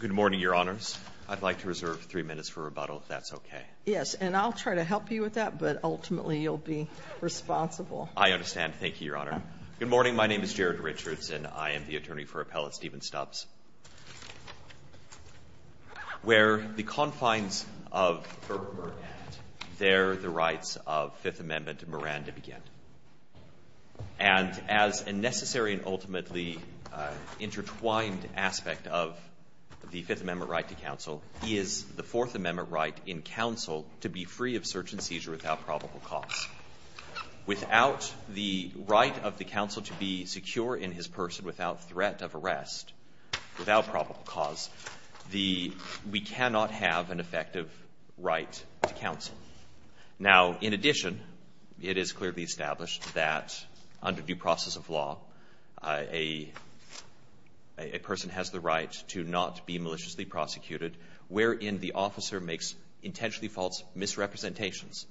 Good morning, Your Honors. I'd like to reserve three minutes for rebuttal, if that's okay. Yes, and I'll try to help you with that, but ultimately you'll be responsible. I understand. Thank you, Your Honor. Good morning. My name is Jared Richards, and I am the attorney for Appellate Stephen Stubbs. Where the confines of Thurber were at, there the rights of Fifth Amendment Miranda began. And as a necessary and ultimately intertwined aspect of the Fifth Amendment right to counsel, is the Fourth Amendment right in counsel to be free of search and seizure without probable cause. Without the right of the counsel to be secure in his person without threat of arrest, without probable cause, we cannot have an effective right to counsel. Now, in addition, it is clearly established that under due process of law, a person has the right to not be maliciously prosecuted wherein the officer makes intentionally false misrepresentations.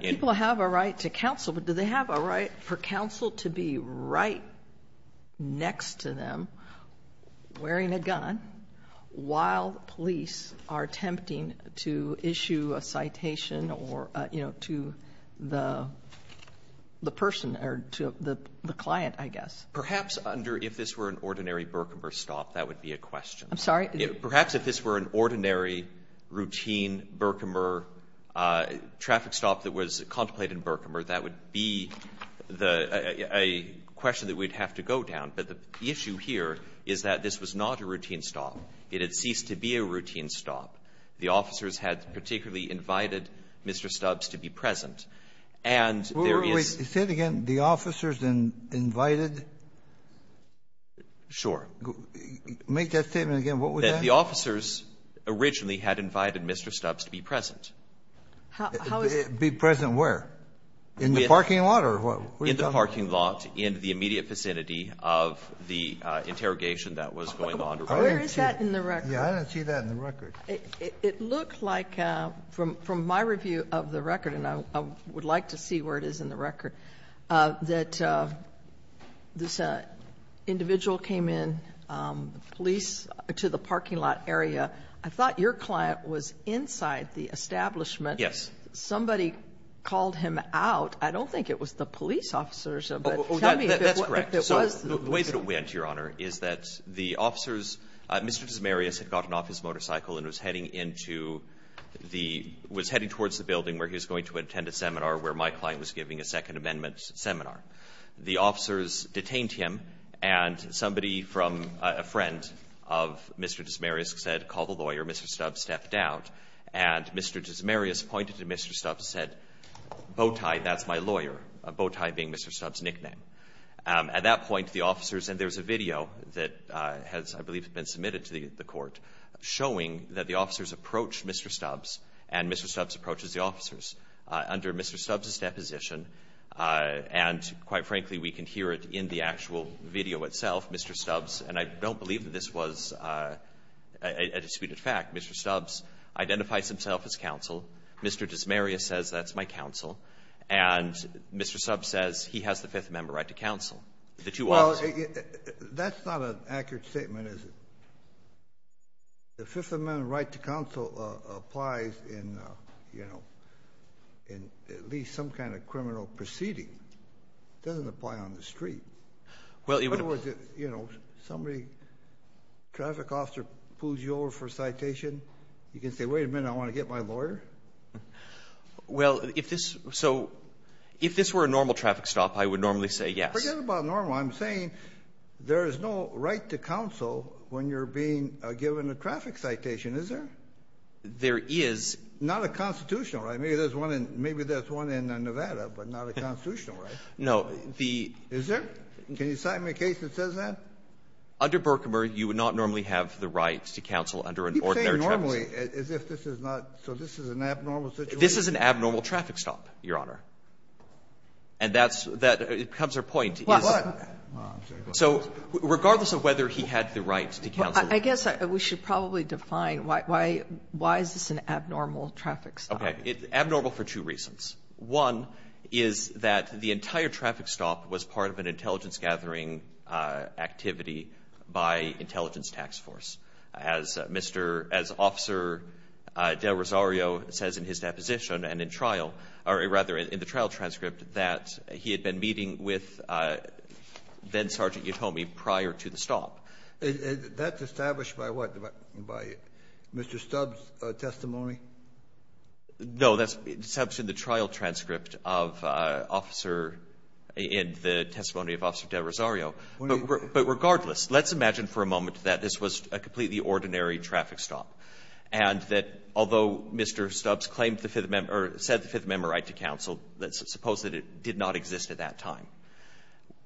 People have a right to counsel, but do they have a right for counsel to be right next to them wearing a gun while police are attempting to issue a citation or, you know, to the person or to the client, I guess? Perhaps under if this were an ordinary Burkhammer stop, that would be a question. I'm sorry? Perhaps if this were an ordinary routine Burkhammer traffic stop that was contemplated in Burkhammer, that would be the question that we'd have to go down. But the issue here is that this was not a routine stop. It had ceased to be a routine stop. The officers had particularly invited Mr. Stubbs to be present. And there is -- Wait. Say it again. The officers invited? Sure. Make that statement again. What was that? That the officers originally had invited Mr. Stubbs to be present. How is it be present where? In the parking lot or what? In the parking lot in the immediate vicinity of the interrogation that was going on. Where is that in the record? I don't see that in the record. It looks like from my review of the record, and I would like to see where it is in the record, that this individual came in, the police, to the parking lot area. I thought your client was inside the establishment. Yes. Somebody called him out. I don't think it was the police officers. But tell me if it was. That's correct. So the way it went, Your Honor, is that the officers, Mr. Desmarais had gotten off his motorcycle and was heading into the — was heading towards the building where he was going to attend a seminar where my client was giving a Second Amendment seminar. The officers detained him, and somebody from a friend of Mr. Desmarais said, call the lawyer. Mr. Stubbs stepped out, and Mr. Desmarais pointed to Mr. Stubbs and said, bowtie, that's my lawyer, a bowtie being Mr. Stubbs' nickname. At that point, the officers — and there's a video that has, I believe, been submitted to the Court showing that the officers approached Mr. Stubbs, and Mr. Stubbs approaches the officers. Under Mr. Stubbs' deposition, and quite frankly, we can hear it in the actual video itself, Mr. Stubbs — and I don't believe that this was a disputed fact — Mr. Stubbs identifies himself as counsel. Mr. Desmarais says, that's my counsel. And Mr. Stubbs says, he has the Fifth Amendment right to counsel. The two officers — Well, that's not an accurate statement, is it? The Fifth Amendment right to counsel applies in, you know, in at least some kind of criminal proceeding. It doesn't apply on the street. In other words, you know, somebody, a traffic officer pulls you over for a citation. You can say, wait a minute, I want to get my lawyer? Well, if this — so if this were a normal traffic stop, I would normally say yes. Forget about normal. I'm saying there is no right to counsel when you're being given a traffic citation, is there? There is. Not a constitutional right. Maybe there's one in — maybe there's one in Nevada, but not a constitutional right. No. The — Is there? Can you cite me a case that says that? Under Berkmer, you would not normally have the right to counsel under an ordinary traffic stop. Normally, as if this is not — so this is an abnormal situation? This is an abnormal traffic stop, Your Honor. And that's — that becomes our point. Well, I'm sorry. So regardless of whether he had the right to counsel — I guess we should probably define why is this an abnormal traffic stop. Okay. Abnormal for two reasons. One is that the entire traffic stop was part of an intelligence-gathering activity by intelligence tax force. As Mr. — as Officer del Rosario says in his deposition and in trial — or rather, in the trial transcript, that he had been meeting with then-Sergeant Yatome prior to the stop. That's established by what? By Mr. Stubbs' testimony? No. That's in the trial transcript of Officer — in the testimony of Officer del Rosario. But regardless, let's imagine for a moment that this was a completely ordinary traffic stop. And that although Mr. Stubbs claimed the Fifth — or said the Fifth Amendment right to counsel, let's suppose that it did not exist at that time.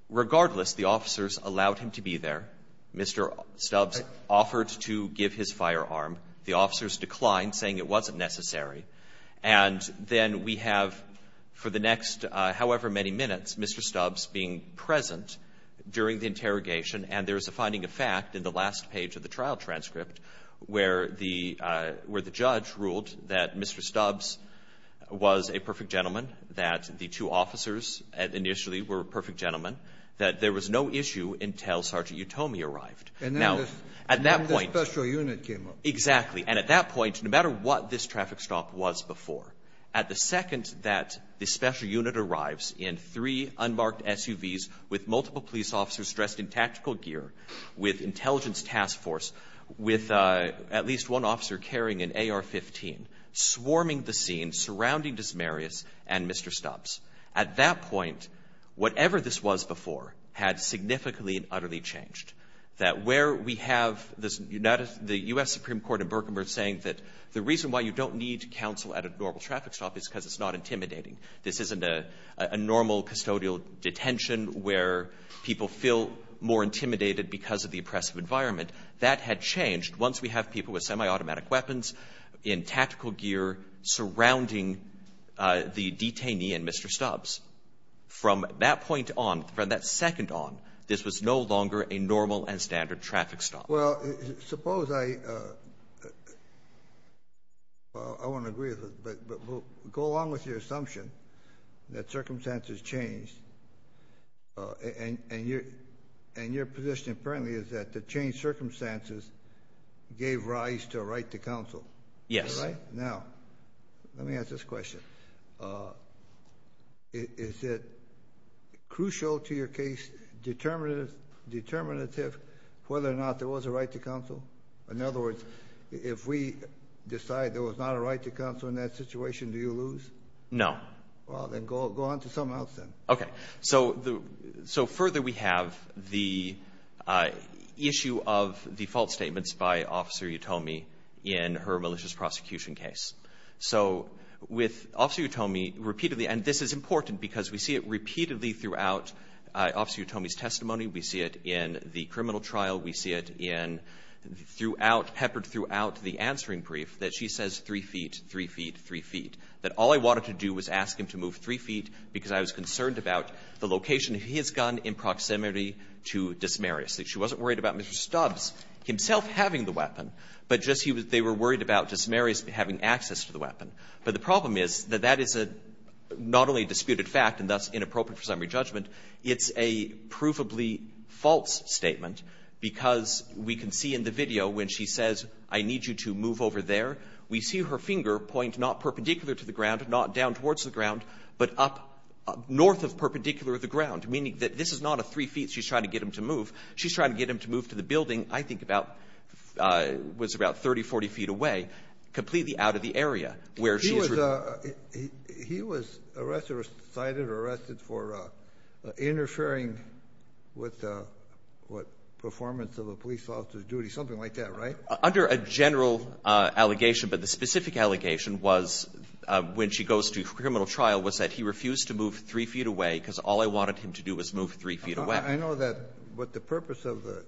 Regardless, the officers allowed him to be there. Mr. Stubbs offered to give his firearm. The officers declined, saying it wasn't necessary. And then we have, for the next however many minutes, Mr. Stubbs being present, during the interrogation. And there's a finding of fact in the last page of the trial transcript, where the — where the judge ruled that Mr. Stubbs was a perfect gentleman, that the two officers initially were perfect gentlemen, that there was no issue until Sergeant Yatome arrived. And then the special unit came up. Exactly. And at that point, no matter what this traffic stop was before, at the second that the special unit arrives in three unmarked SUVs with multiple police officers dressed in tactical gear, with intelligence task force, with at least one officer carrying an AR-15, swarming the scene surrounding Desmarais and Mr. Stubbs. At that point, whatever this was before had significantly and utterly changed. That where we have this — the U.S. Supreme Court in Berkman saying that the reason why you don't need counsel at a normal traffic stop is because it's not intimidating. This isn't a — a normal custodial detention where people feel more intimidated because of the oppressive environment. That had changed once we have people with semiautomatic weapons in tactical gear surrounding the detainee and Mr. Stubbs. From that point on, from that second on, this was no longer a normal and standard traffic stop. Well, suppose I — well, I want to agree with it, but we'll go along with your assumption that circumstances changed, and — and your — and your position apparently is that the changed circumstances gave rise to a right to counsel. Yes. Right? Now, let me ask this question. Is it crucial to your case, determinative — determinative whether or not there was a right to counsel? In other words, if we decide there was not a right to counsel in that situation, do you lose? No. Well, then go — go on to something else, then. Okay. So the — so further, we have the issue of the false statements by Officer Utomi in her malicious prosecution case. So with Officer Utomi, repeatedly — and this is important because we see it repeatedly throughout Officer Utomi's testimony. We see it in the criminal trial. We see it in — throughout — peppered throughout the answering brief that she says 3 feet, 3 feet, 3 feet, that all I wanted to do was ask him to move 3 feet because I was concerned about the location of his gun in proximity to Desmarais. She wasn't worried about Mr. Stubbs himself having the weapon, but just he was — they were worried about Desmarais having access to the weapon. But the problem is that that is a — not only a disputed fact and thus inappropriate for summary judgment, it's a provably false statement because we can see in the video when she says, I need you to move over there, we see her finger point not perpendicular to the ground, not down towards the ground, but up north of perpendicular to the ground, meaning that this is not a 3 feet she's trying to get him to move. She's trying to get him to move to the building, I think, about — was about 30, 40 feet away, completely out of the area where she was — He was — he was arrested or cited or arrested for interfering with the — what, Under a general allegation, but the specific allegation was, when she goes to a criminal trial, was that he refused to move 3 feet away because all I wanted him to do was move 3 feet away. I know that, but the purpose of the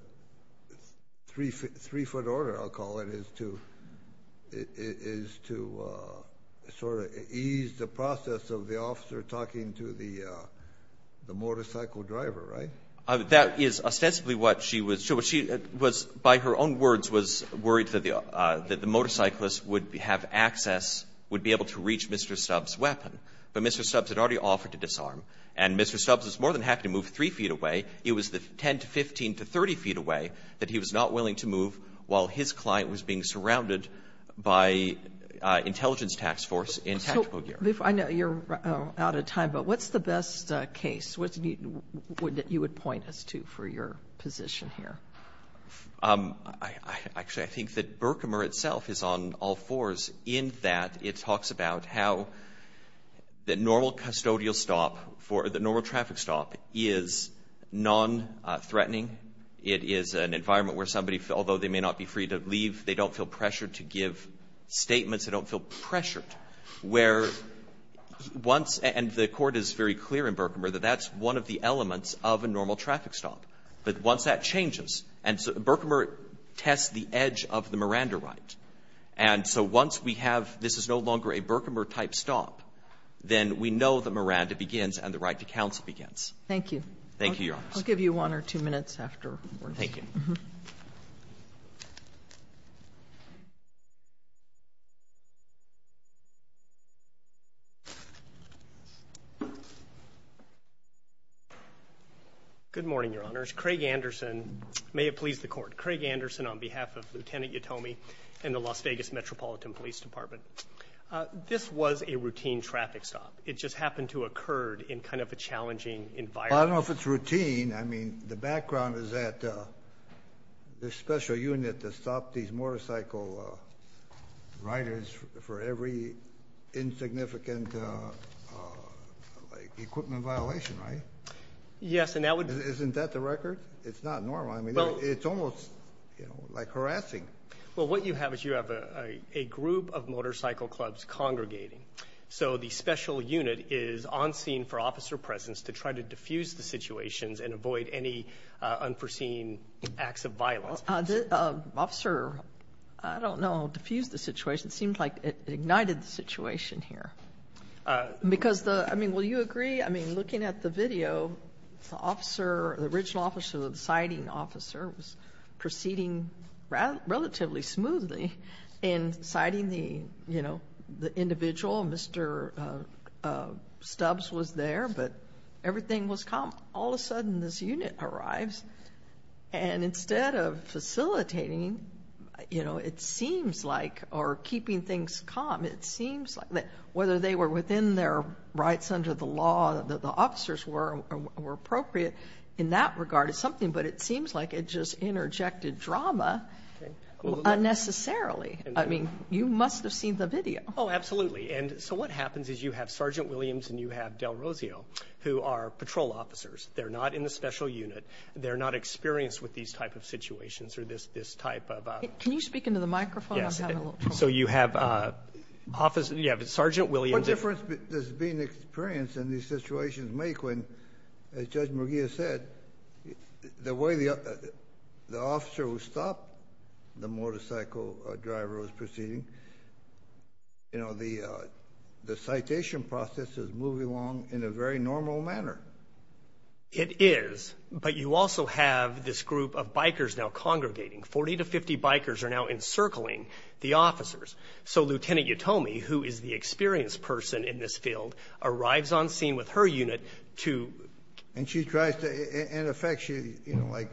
3-foot order, I'll call it, is to — is to sort of ease the process of the officer talking to the motorcycle driver, right? That is ostensibly what she was — so she was, by her own words, was worried that the motorcyclist would have access, would be able to reach Mr. Stubbs' weapon. But Mr. Stubbs had already offered to disarm. And Mr. Stubbs was more than happy to move 3 feet away. It was the 10 to 15 to 30 feet away that he was not willing to move while his client was being surrounded by intelligence task force in tactical gear. I know you're out of time, but what's the best case? What's the — that you would point us to for your position here? Actually, I think that Berkemer itself is on all fours in that it talks about how the normal custodial stop for — the normal traffic stop is non-threatening. It is an environment where somebody, although they may not be free to leave, they don't feel pressured to give statements. They don't feel pressured. And the Court is very clear in Berkemer that that's one of the elements of a normal traffic stop. But once that changes — and Berkemer tests the edge of the Miranda right. And so once we have this is no longer a Berkemer-type stop, then we know that Miranda begins and the right to counsel begins. Thank you. Thank you, Your Honors. I'll give you one or two minutes afterwards. Thank you. Good morning, Your Honors. Craig Anderson — may it please the Court — Craig Anderson on behalf of Lieutenant Yatome and the Las Vegas Metropolitan Police Department. This was a routine traffic stop. It just happened to occur in kind of a challenging environment. Well, I don't know if it's routine. I mean, the background is that this special unit that stopped these motorcycle riders for every insignificant equipment violation, right? Yes, and that would — Isn't that the record? It's not normal. I mean, it's almost like harassing. Well, what you have is you have a group of motorcycle clubs congregating. So the special unit is on scene for officer presence to try to diffuse the situations and avoid any unforeseen acts of violence. Well, the officer, I don't know, diffused the situation. It seemed like it ignited the situation here. Because the — I mean, will you agree? I mean, looking at the video, the officer, the original officer, the siding officer, was proceeding relatively smoothly in siding the, you know, the individual. Mr. Stubbs was there, but everything was calm. All of a sudden, this unit arrives. And instead of facilitating, you know, it seems like, or keeping things calm, it seems like that whether they were within their rights under the law, that the officers were appropriate in that regard is something. But it seems like it just interjected drama unnecessarily. I mean, you must have seen the video. Oh, absolutely. And so what happens is you have Sergeant Williams and you have Del Rosio, who are patrol officers. They're not in the special unit. They're not experienced with these type of situations or this type of — Can you speak into the microphone? Yes. So you have Sergeant Williams — What difference does being experienced in these situations make when, as Judge McGeer said, the way the officer who stopped the motorcycle driver was proceeding, you know, the citation process is moving along in a very normal manner. It is. But you also have this group of bikers now congregating. Forty to fifty bikers are now encircling the officers. So Lieutenant Utomi, who is the experienced person in this field, arrives on scene with her unit to — And she tries to — in effect, she, you know, like,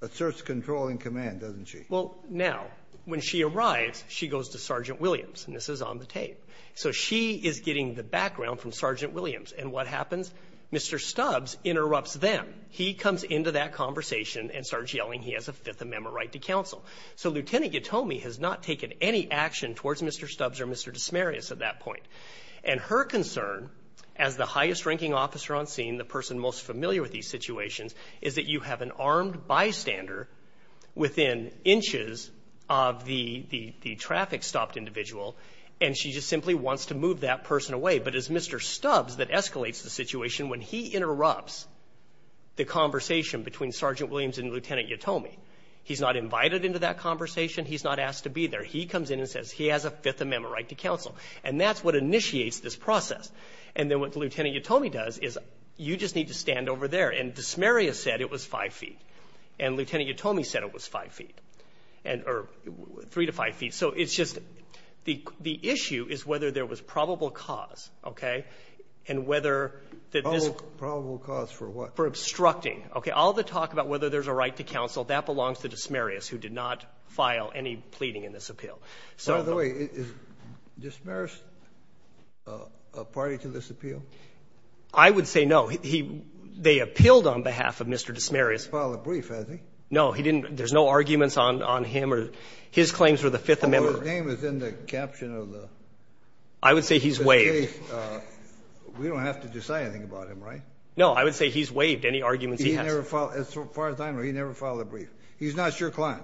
asserts control and command, doesn't she? Well, now, when she arrives, she goes to Sergeant Williams. And this is on the tape. So she is getting the background from Sergeant Williams. And what happens? Mr. Stubbs interrupts them. He comes into that conversation and starts yelling he has a Fifth Amendment right to counsel. So Lieutenant Utomi has not taken any action towards Mr. Stubbs or Mr. Desmarais at that point. And her concern, as the highest-ranking officer on scene, the person most familiar with these situations, is that you have an armed bystander within inches of the traffic-stopped individual, and she just simply wants to move that person away. But it's Mr. Stubbs that escalates the situation when he interrupts the conversation between Sergeant Williams and Lieutenant Utomi. He's not invited into that conversation. He's not asked to be there. He comes in and says he has a Fifth Amendment right to counsel. And that's what initiates this process. And then what Lieutenant Utomi does is you just need to stand over there. And Desmarais said it was 5 feet. And Lieutenant Utomi said it was 5 feet, or 3 to 5 feet. So it's just the issue is whether there was probable cause, okay, and whether that this was the right to counsel. That belongs to Desmarais, who did not file any pleading in this appeal. So the way, is Desmarais a party to this appeal? I would say no. He they appealed on behalf of Mr. Desmarais. He filed a brief, I think. No, he didn't. There's no arguments on him or his claims for the Fifth Amendment. Well, his name is in the caption of the case. I would say he's waived. We don't have to decide anything about him, right? No. I would say he's waived any arguments he has. He never filed, as far as I know, he never filed a brief. He's not your client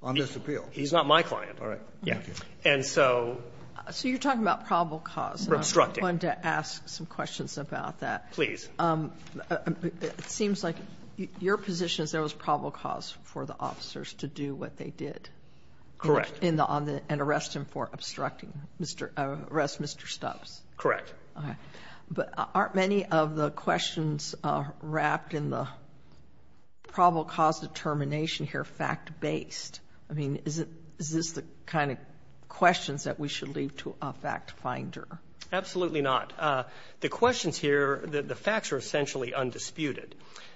on this appeal. He's not my client. All right. And so. So you're talking about probable cause. Obstructing. I wanted to ask some questions about that. Please. It seems like your position is there was probable cause for the officers to do what they did. Correct. And arrest him for obstructing, arrest Mr. Stubbs. Correct. But aren't many of the questions wrapped in the probable cause determination here fact-based? I mean, is this the kind of questions that we should leave to a fact-finder? Absolutely not. The questions here, the facts are essentially undisputed,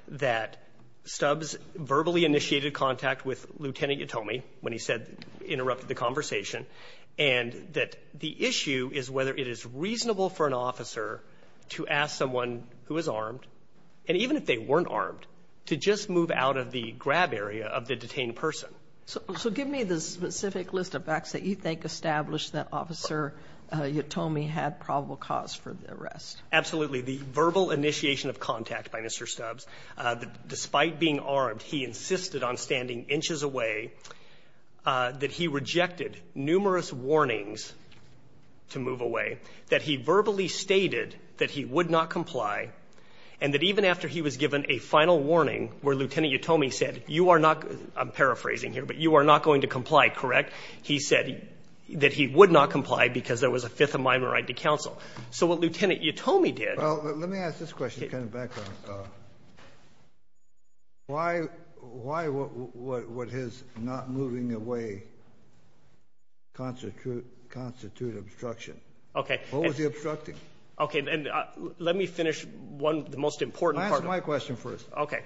that Stubbs verbally initiated contact with Lieutenant Yatome when he said, interrupted the conversation, and that the issue is whether it is reasonable for an officer to ask someone who is armed, and even if they weren't armed, to just move out of the grab area of the detained person. So give me the specific list of facts that you think established that Officer Yatome had probable cause for the arrest. Absolutely. The verbal initiation of contact by Mr. Stubbs, despite being armed, he insisted on standing inches away, that he rejected numerous warnings to move away, that he verbally stated that he would not comply, and that even after he was given a final warning where Lieutenant Yatome said, you are not, I'm paraphrasing here, but you are not going to comply, correct? He said that he would not comply because there was a Fifth Amendment right to counsel. So what Lieutenant Yatome did. Well, let me ask this question, kind of background. Why would his not moving away constitute obstruction? Okay. What was he obstructing? Okay. And let me finish one, the most important part. My question first. Okay.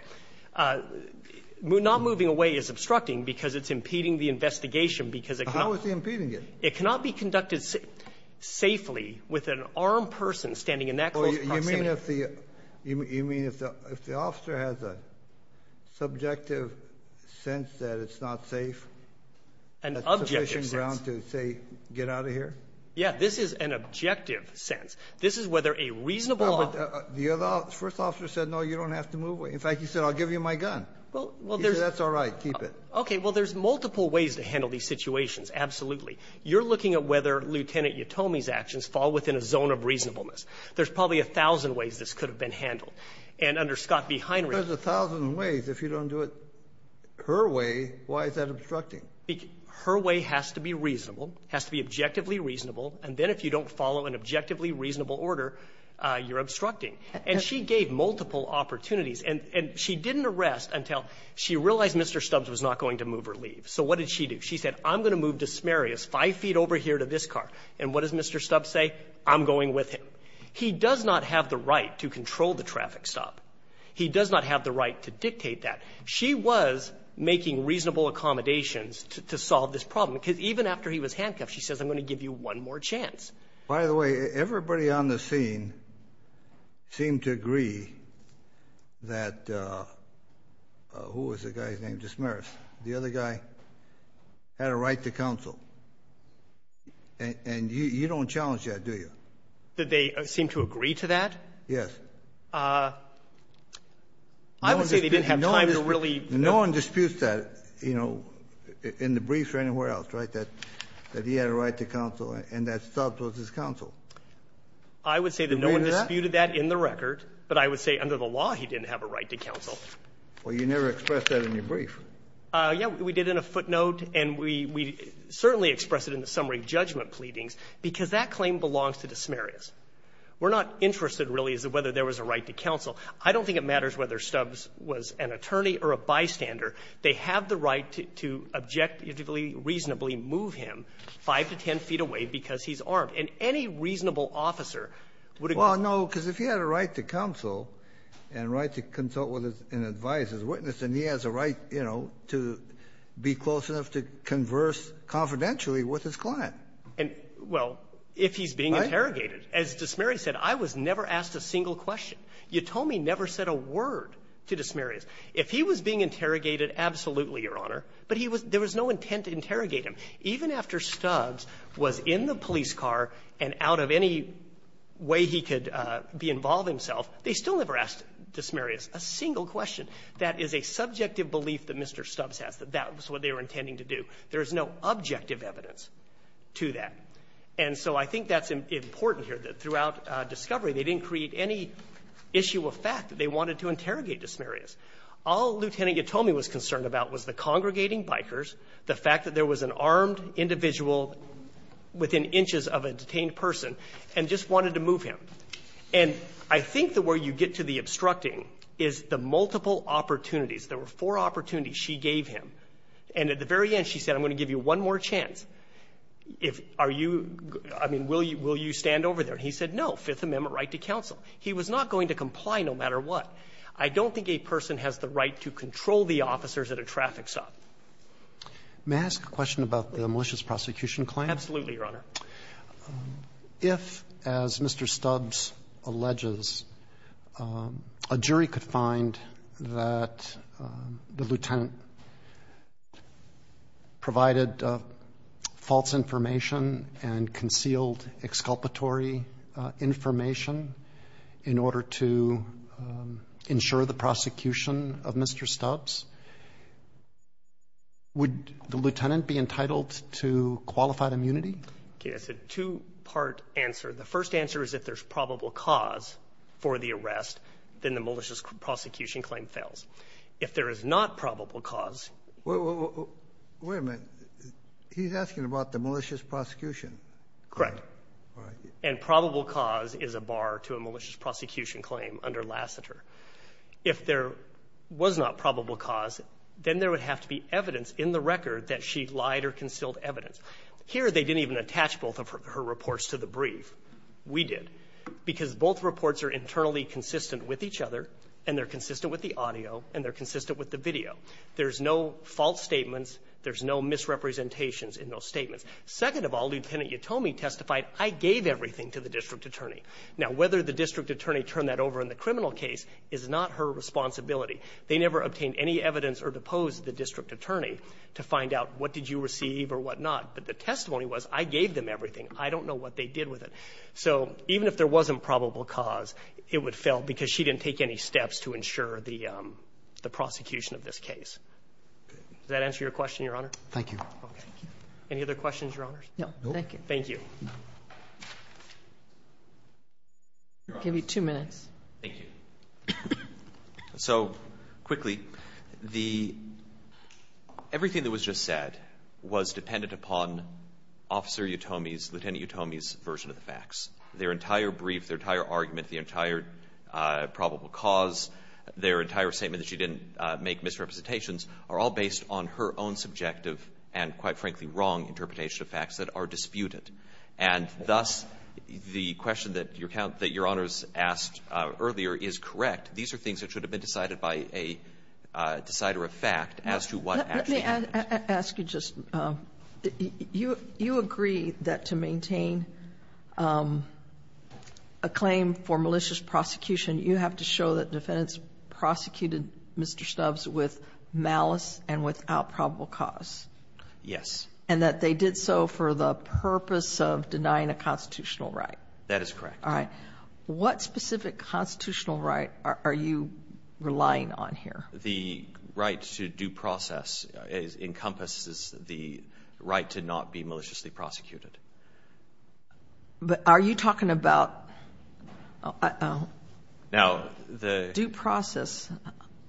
Not moving away is obstructing because it's impeding the investigation because it cannot. How is he impeding it? It cannot be conducted safely with an armed person standing in that close proximity. You mean if the officer has a subjective sense that it's not safe? An objective sense. A sufficient ground to say, get out of here? Yeah. This is an objective sense. This is whether a reasonable officer. The first officer said, no, you don't have to move away. In fact, he said, I'll give you my gun. He said, that's all right, keep it. Okay. Well, there's multiple ways to handle these situations, absolutely. You're looking at whether Lieutenant Yatome's actions fall within a zone of reasonableness. There's probably a thousand ways this could have been handled. And under Scott v. Heinrich. There's a thousand ways. If you don't do it her way, why is that obstructing? Her way has to be reasonable, has to be objectively reasonable, and then if you don't follow an objectively reasonable order, you're obstructing. And she gave multiple opportunities. And she didn't arrest until she realized Mr. Stubbs was not going to move or leave. So what did she do? She said, I'm going to move to Sumerius, 5 feet over here to this car. And what does Mr. Stubbs say? I'm going with him. He does not have the right to control the traffic stop. He does not have the right to dictate that. She was making reasonable accommodations to solve this problem. Because even after he was handcuffed, she says, I'm going to give you one more chance. By the way, everybody on the scene seemed to agree that who was the guy's name? Just Meris. The other guy had a right to counsel. And you don't challenge that, do you? Did they seem to agree to that? Yes. I would say they didn't have time to really. No one disputes that, you know, in the briefs or anywhere else, right, that he had a right to counsel and that Stubbs was his counsel. You mean that? I would say that no one disputed that in the record. But I would say under the law, he didn't have a right to counsel. Well, you never expressed that in your brief. Yes, we did in a footnote, and we certainly expressed it in the summary judgment pleadings, because that claim belongs to the Sumerius. We're not interested, really, as to whether there was a right to counsel. I don't think it matters whether Stubbs was an attorney or a bystander. They have the right to objectively, reasonably move him 5 to 10 feet away because he's armed. And any reasonable officer would agree. Well, no, because if he had a right to counsel and a right to consult with and advise his witness, then he has a right, you know, to be close enough to converse confidentially with his client. And, well, if he's being interrogated. As DeSmeris said, I was never asked a single question. Yatomi never said a word to DeSmeris. If he was being interrogated, absolutely, Your Honor. But he was – there was no intent to interrogate him. Even after Stubbs was in the police car and out of any way he could be involved himself, they still never asked DeSmeris a single question. That is a subjective belief that Mr. Stubbs has, that that was what they were intending to do. There is no objective evidence to that. And so I think that's important here, that throughout discovery, they didn't create any issue of fact that they wanted to interrogate DeSmeris. All Lieutenant Yatomi was concerned about was the congregating bikers, the fact that there was an armed individual within inches of a detained person, and just wanted to move him. And I think the way you get to the obstructing is the multiple opportunities. There were four opportunities she gave him. And at the very end, she said, I'm going to give you one more chance. Are you – I mean, will you stand over there? And he said, no, Fifth Amendment right to counsel. He was not going to comply no matter what. I don't think a person has the right to control the officers at a traffic stop. Roberts. May I ask a question about the malicious prosecution claim? Absolutely, Your Honor. If, as Mr. Stubbs alleges, a jury could find that the lieutenant provided false information and concealed exculpatory information in order to ensure the prosecution of Mr. Stubbs, would the lieutenant be entitled to qualified immunity? Okay. That's a two-part answer. The first answer is if there's probable cause for the arrest, then the malicious prosecution claim fails. If there is not probable cause — Wait a minute. He's asking about the malicious prosecution. Correct. And probable cause is a bar to a malicious prosecution claim under Lassiter. If there was not probable cause, then there would have to be evidence in the record that she lied or concealed evidence. Here, they didn't even attach both of her reports to the brief. We did. Because both reports are internally consistent with each other, and they're consistent with the audio, and they're consistent with the video. There's no false statements. There's no misrepresentations in those statements. Second of all, Lieutenant Utomi testified, I gave everything to the district attorney. Now, whether the district attorney turned that over in the criminal case is not her responsibility. They never obtained any evidence or deposed the district attorney to find out what did you receive or what not. But the testimony was, I gave them everything. I don't know what they did with it. So even if there wasn't probable cause, it would fail because she didn't take any evidence in this case. Does that answer your question, Your Honor? Thank you. Any other questions, Your Honors? No, thank you. Thank you. I'll give you two minutes. Thank you. So, quickly, the — everything that was just said was dependent upon Officer Utomi's, Lieutenant Utomi's version of the facts. Their entire brief, their entire argument, the entire probable cause, their entire statement that she didn't make misrepresentations are all based on her own subjective and, quite frankly, wrong interpretation of facts that are disputed. And thus, the question that Your Honor's asked earlier is correct. These are things that should have been decided by a decider of fact as to what actually happened. Let me ask you just — you agree that to maintain a claim for malicious prosecution, you have to show that defendants prosecuted Mr. Snubbs with malice and without probable cause? Yes. And that they did so for the purpose of denying a constitutional right? That is correct. All right. What specific constitutional right are you relying on here? The right to due process encompasses the right to not be maliciously prosecuted. But are you talking about — Now, the — Due process.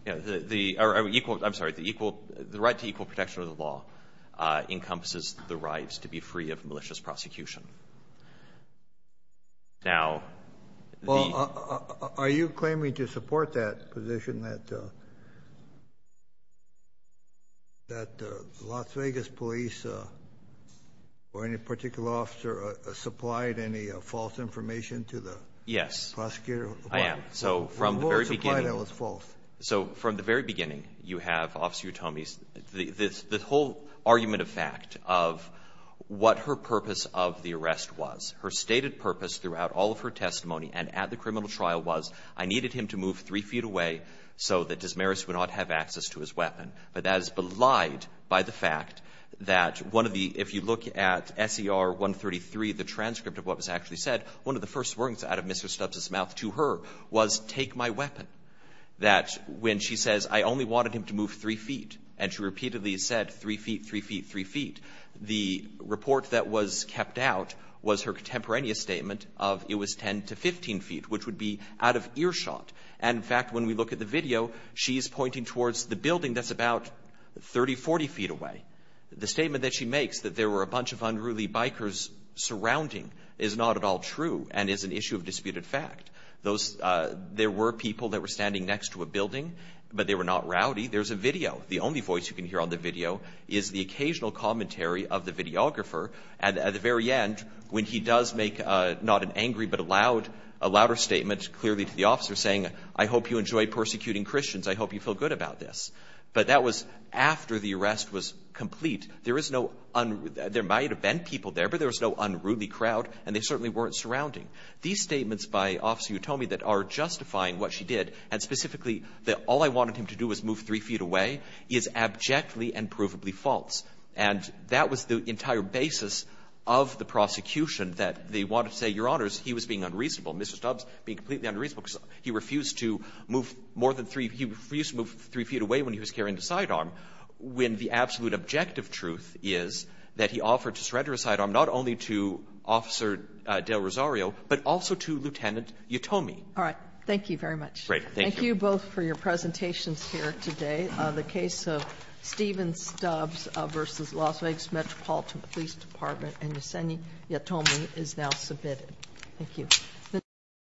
Yeah. The — or equal — I'm sorry. The equal — the right to equal protection of the law encompasses the rights to be free of malicious prosecution. Now, the — Well, are you claiming to support that position that — that the Las Vegas police or any particular officer supplied any false information to the prosecutor? Yes, I am. So from the very beginning — Who supplied that was false? So from the very beginning, you have Officer Utomis — the whole argument of fact of what her purpose of the arrest was, her stated purpose throughout all of her testimony and at the criminal trial was, I needed him to move three feet away so that Desmarais would not have access to his weapon. But that is belied by the fact that one of the — if you look at SER 133, the transcript of what was actually said, one of the first words out of Mr. Stubbs' mouth to her was, take my weapon. That when she says, I only wanted him to move three feet, and she repeatedly said, three feet, three feet, three feet, the report that was kept out was her contemporaneous statement of it was 10 to 15 feet, which would be out of earshot. And, in fact, when we look at the video, she is pointing towards the building that's about 30, 40 feet away. The statement that she makes, that there were a bunch of unruly bikers surrounding, is not at all true and is an issue of disputed fact. Those — there were people that were standing next to a building, but they were not rowdy. There's a video. The only voice you can hear on the video is the occasional commentary of the videographer. And at the very end, when he does make not an angry but a loud — a louder statement clearly to the officer, saying, I hope you enjoy persecuting Christians. I hope you feel good about this. But that was after the arrest was complete. There is no — there might have been people there, but there was no unruly crowd, and they certainly weren't surrounding. These statements by Officer Utomi that are justifying what she did, and specifically that all I wanted him to do was move three feet away, is abjectly and provably false. And that was the entire basis of the prosecution, that they wanted to say, Your Honors, he was being unreasonable. Mr. Stubbs being completely unreasonable because he refused to move more than three — he refused to move three feet away when he was carrying a sidearm, when the absolute objective truth is that he offered to surrender a sidearm not only to Officer Del Rosario, but also to Lieutenant Utomi. Sotomayor, thank you both for your presentations here today. The case of Steven Stubbs v. Las Vegas Metropolitan Police Department and Yesenia Utomi is now submitted. Thank you.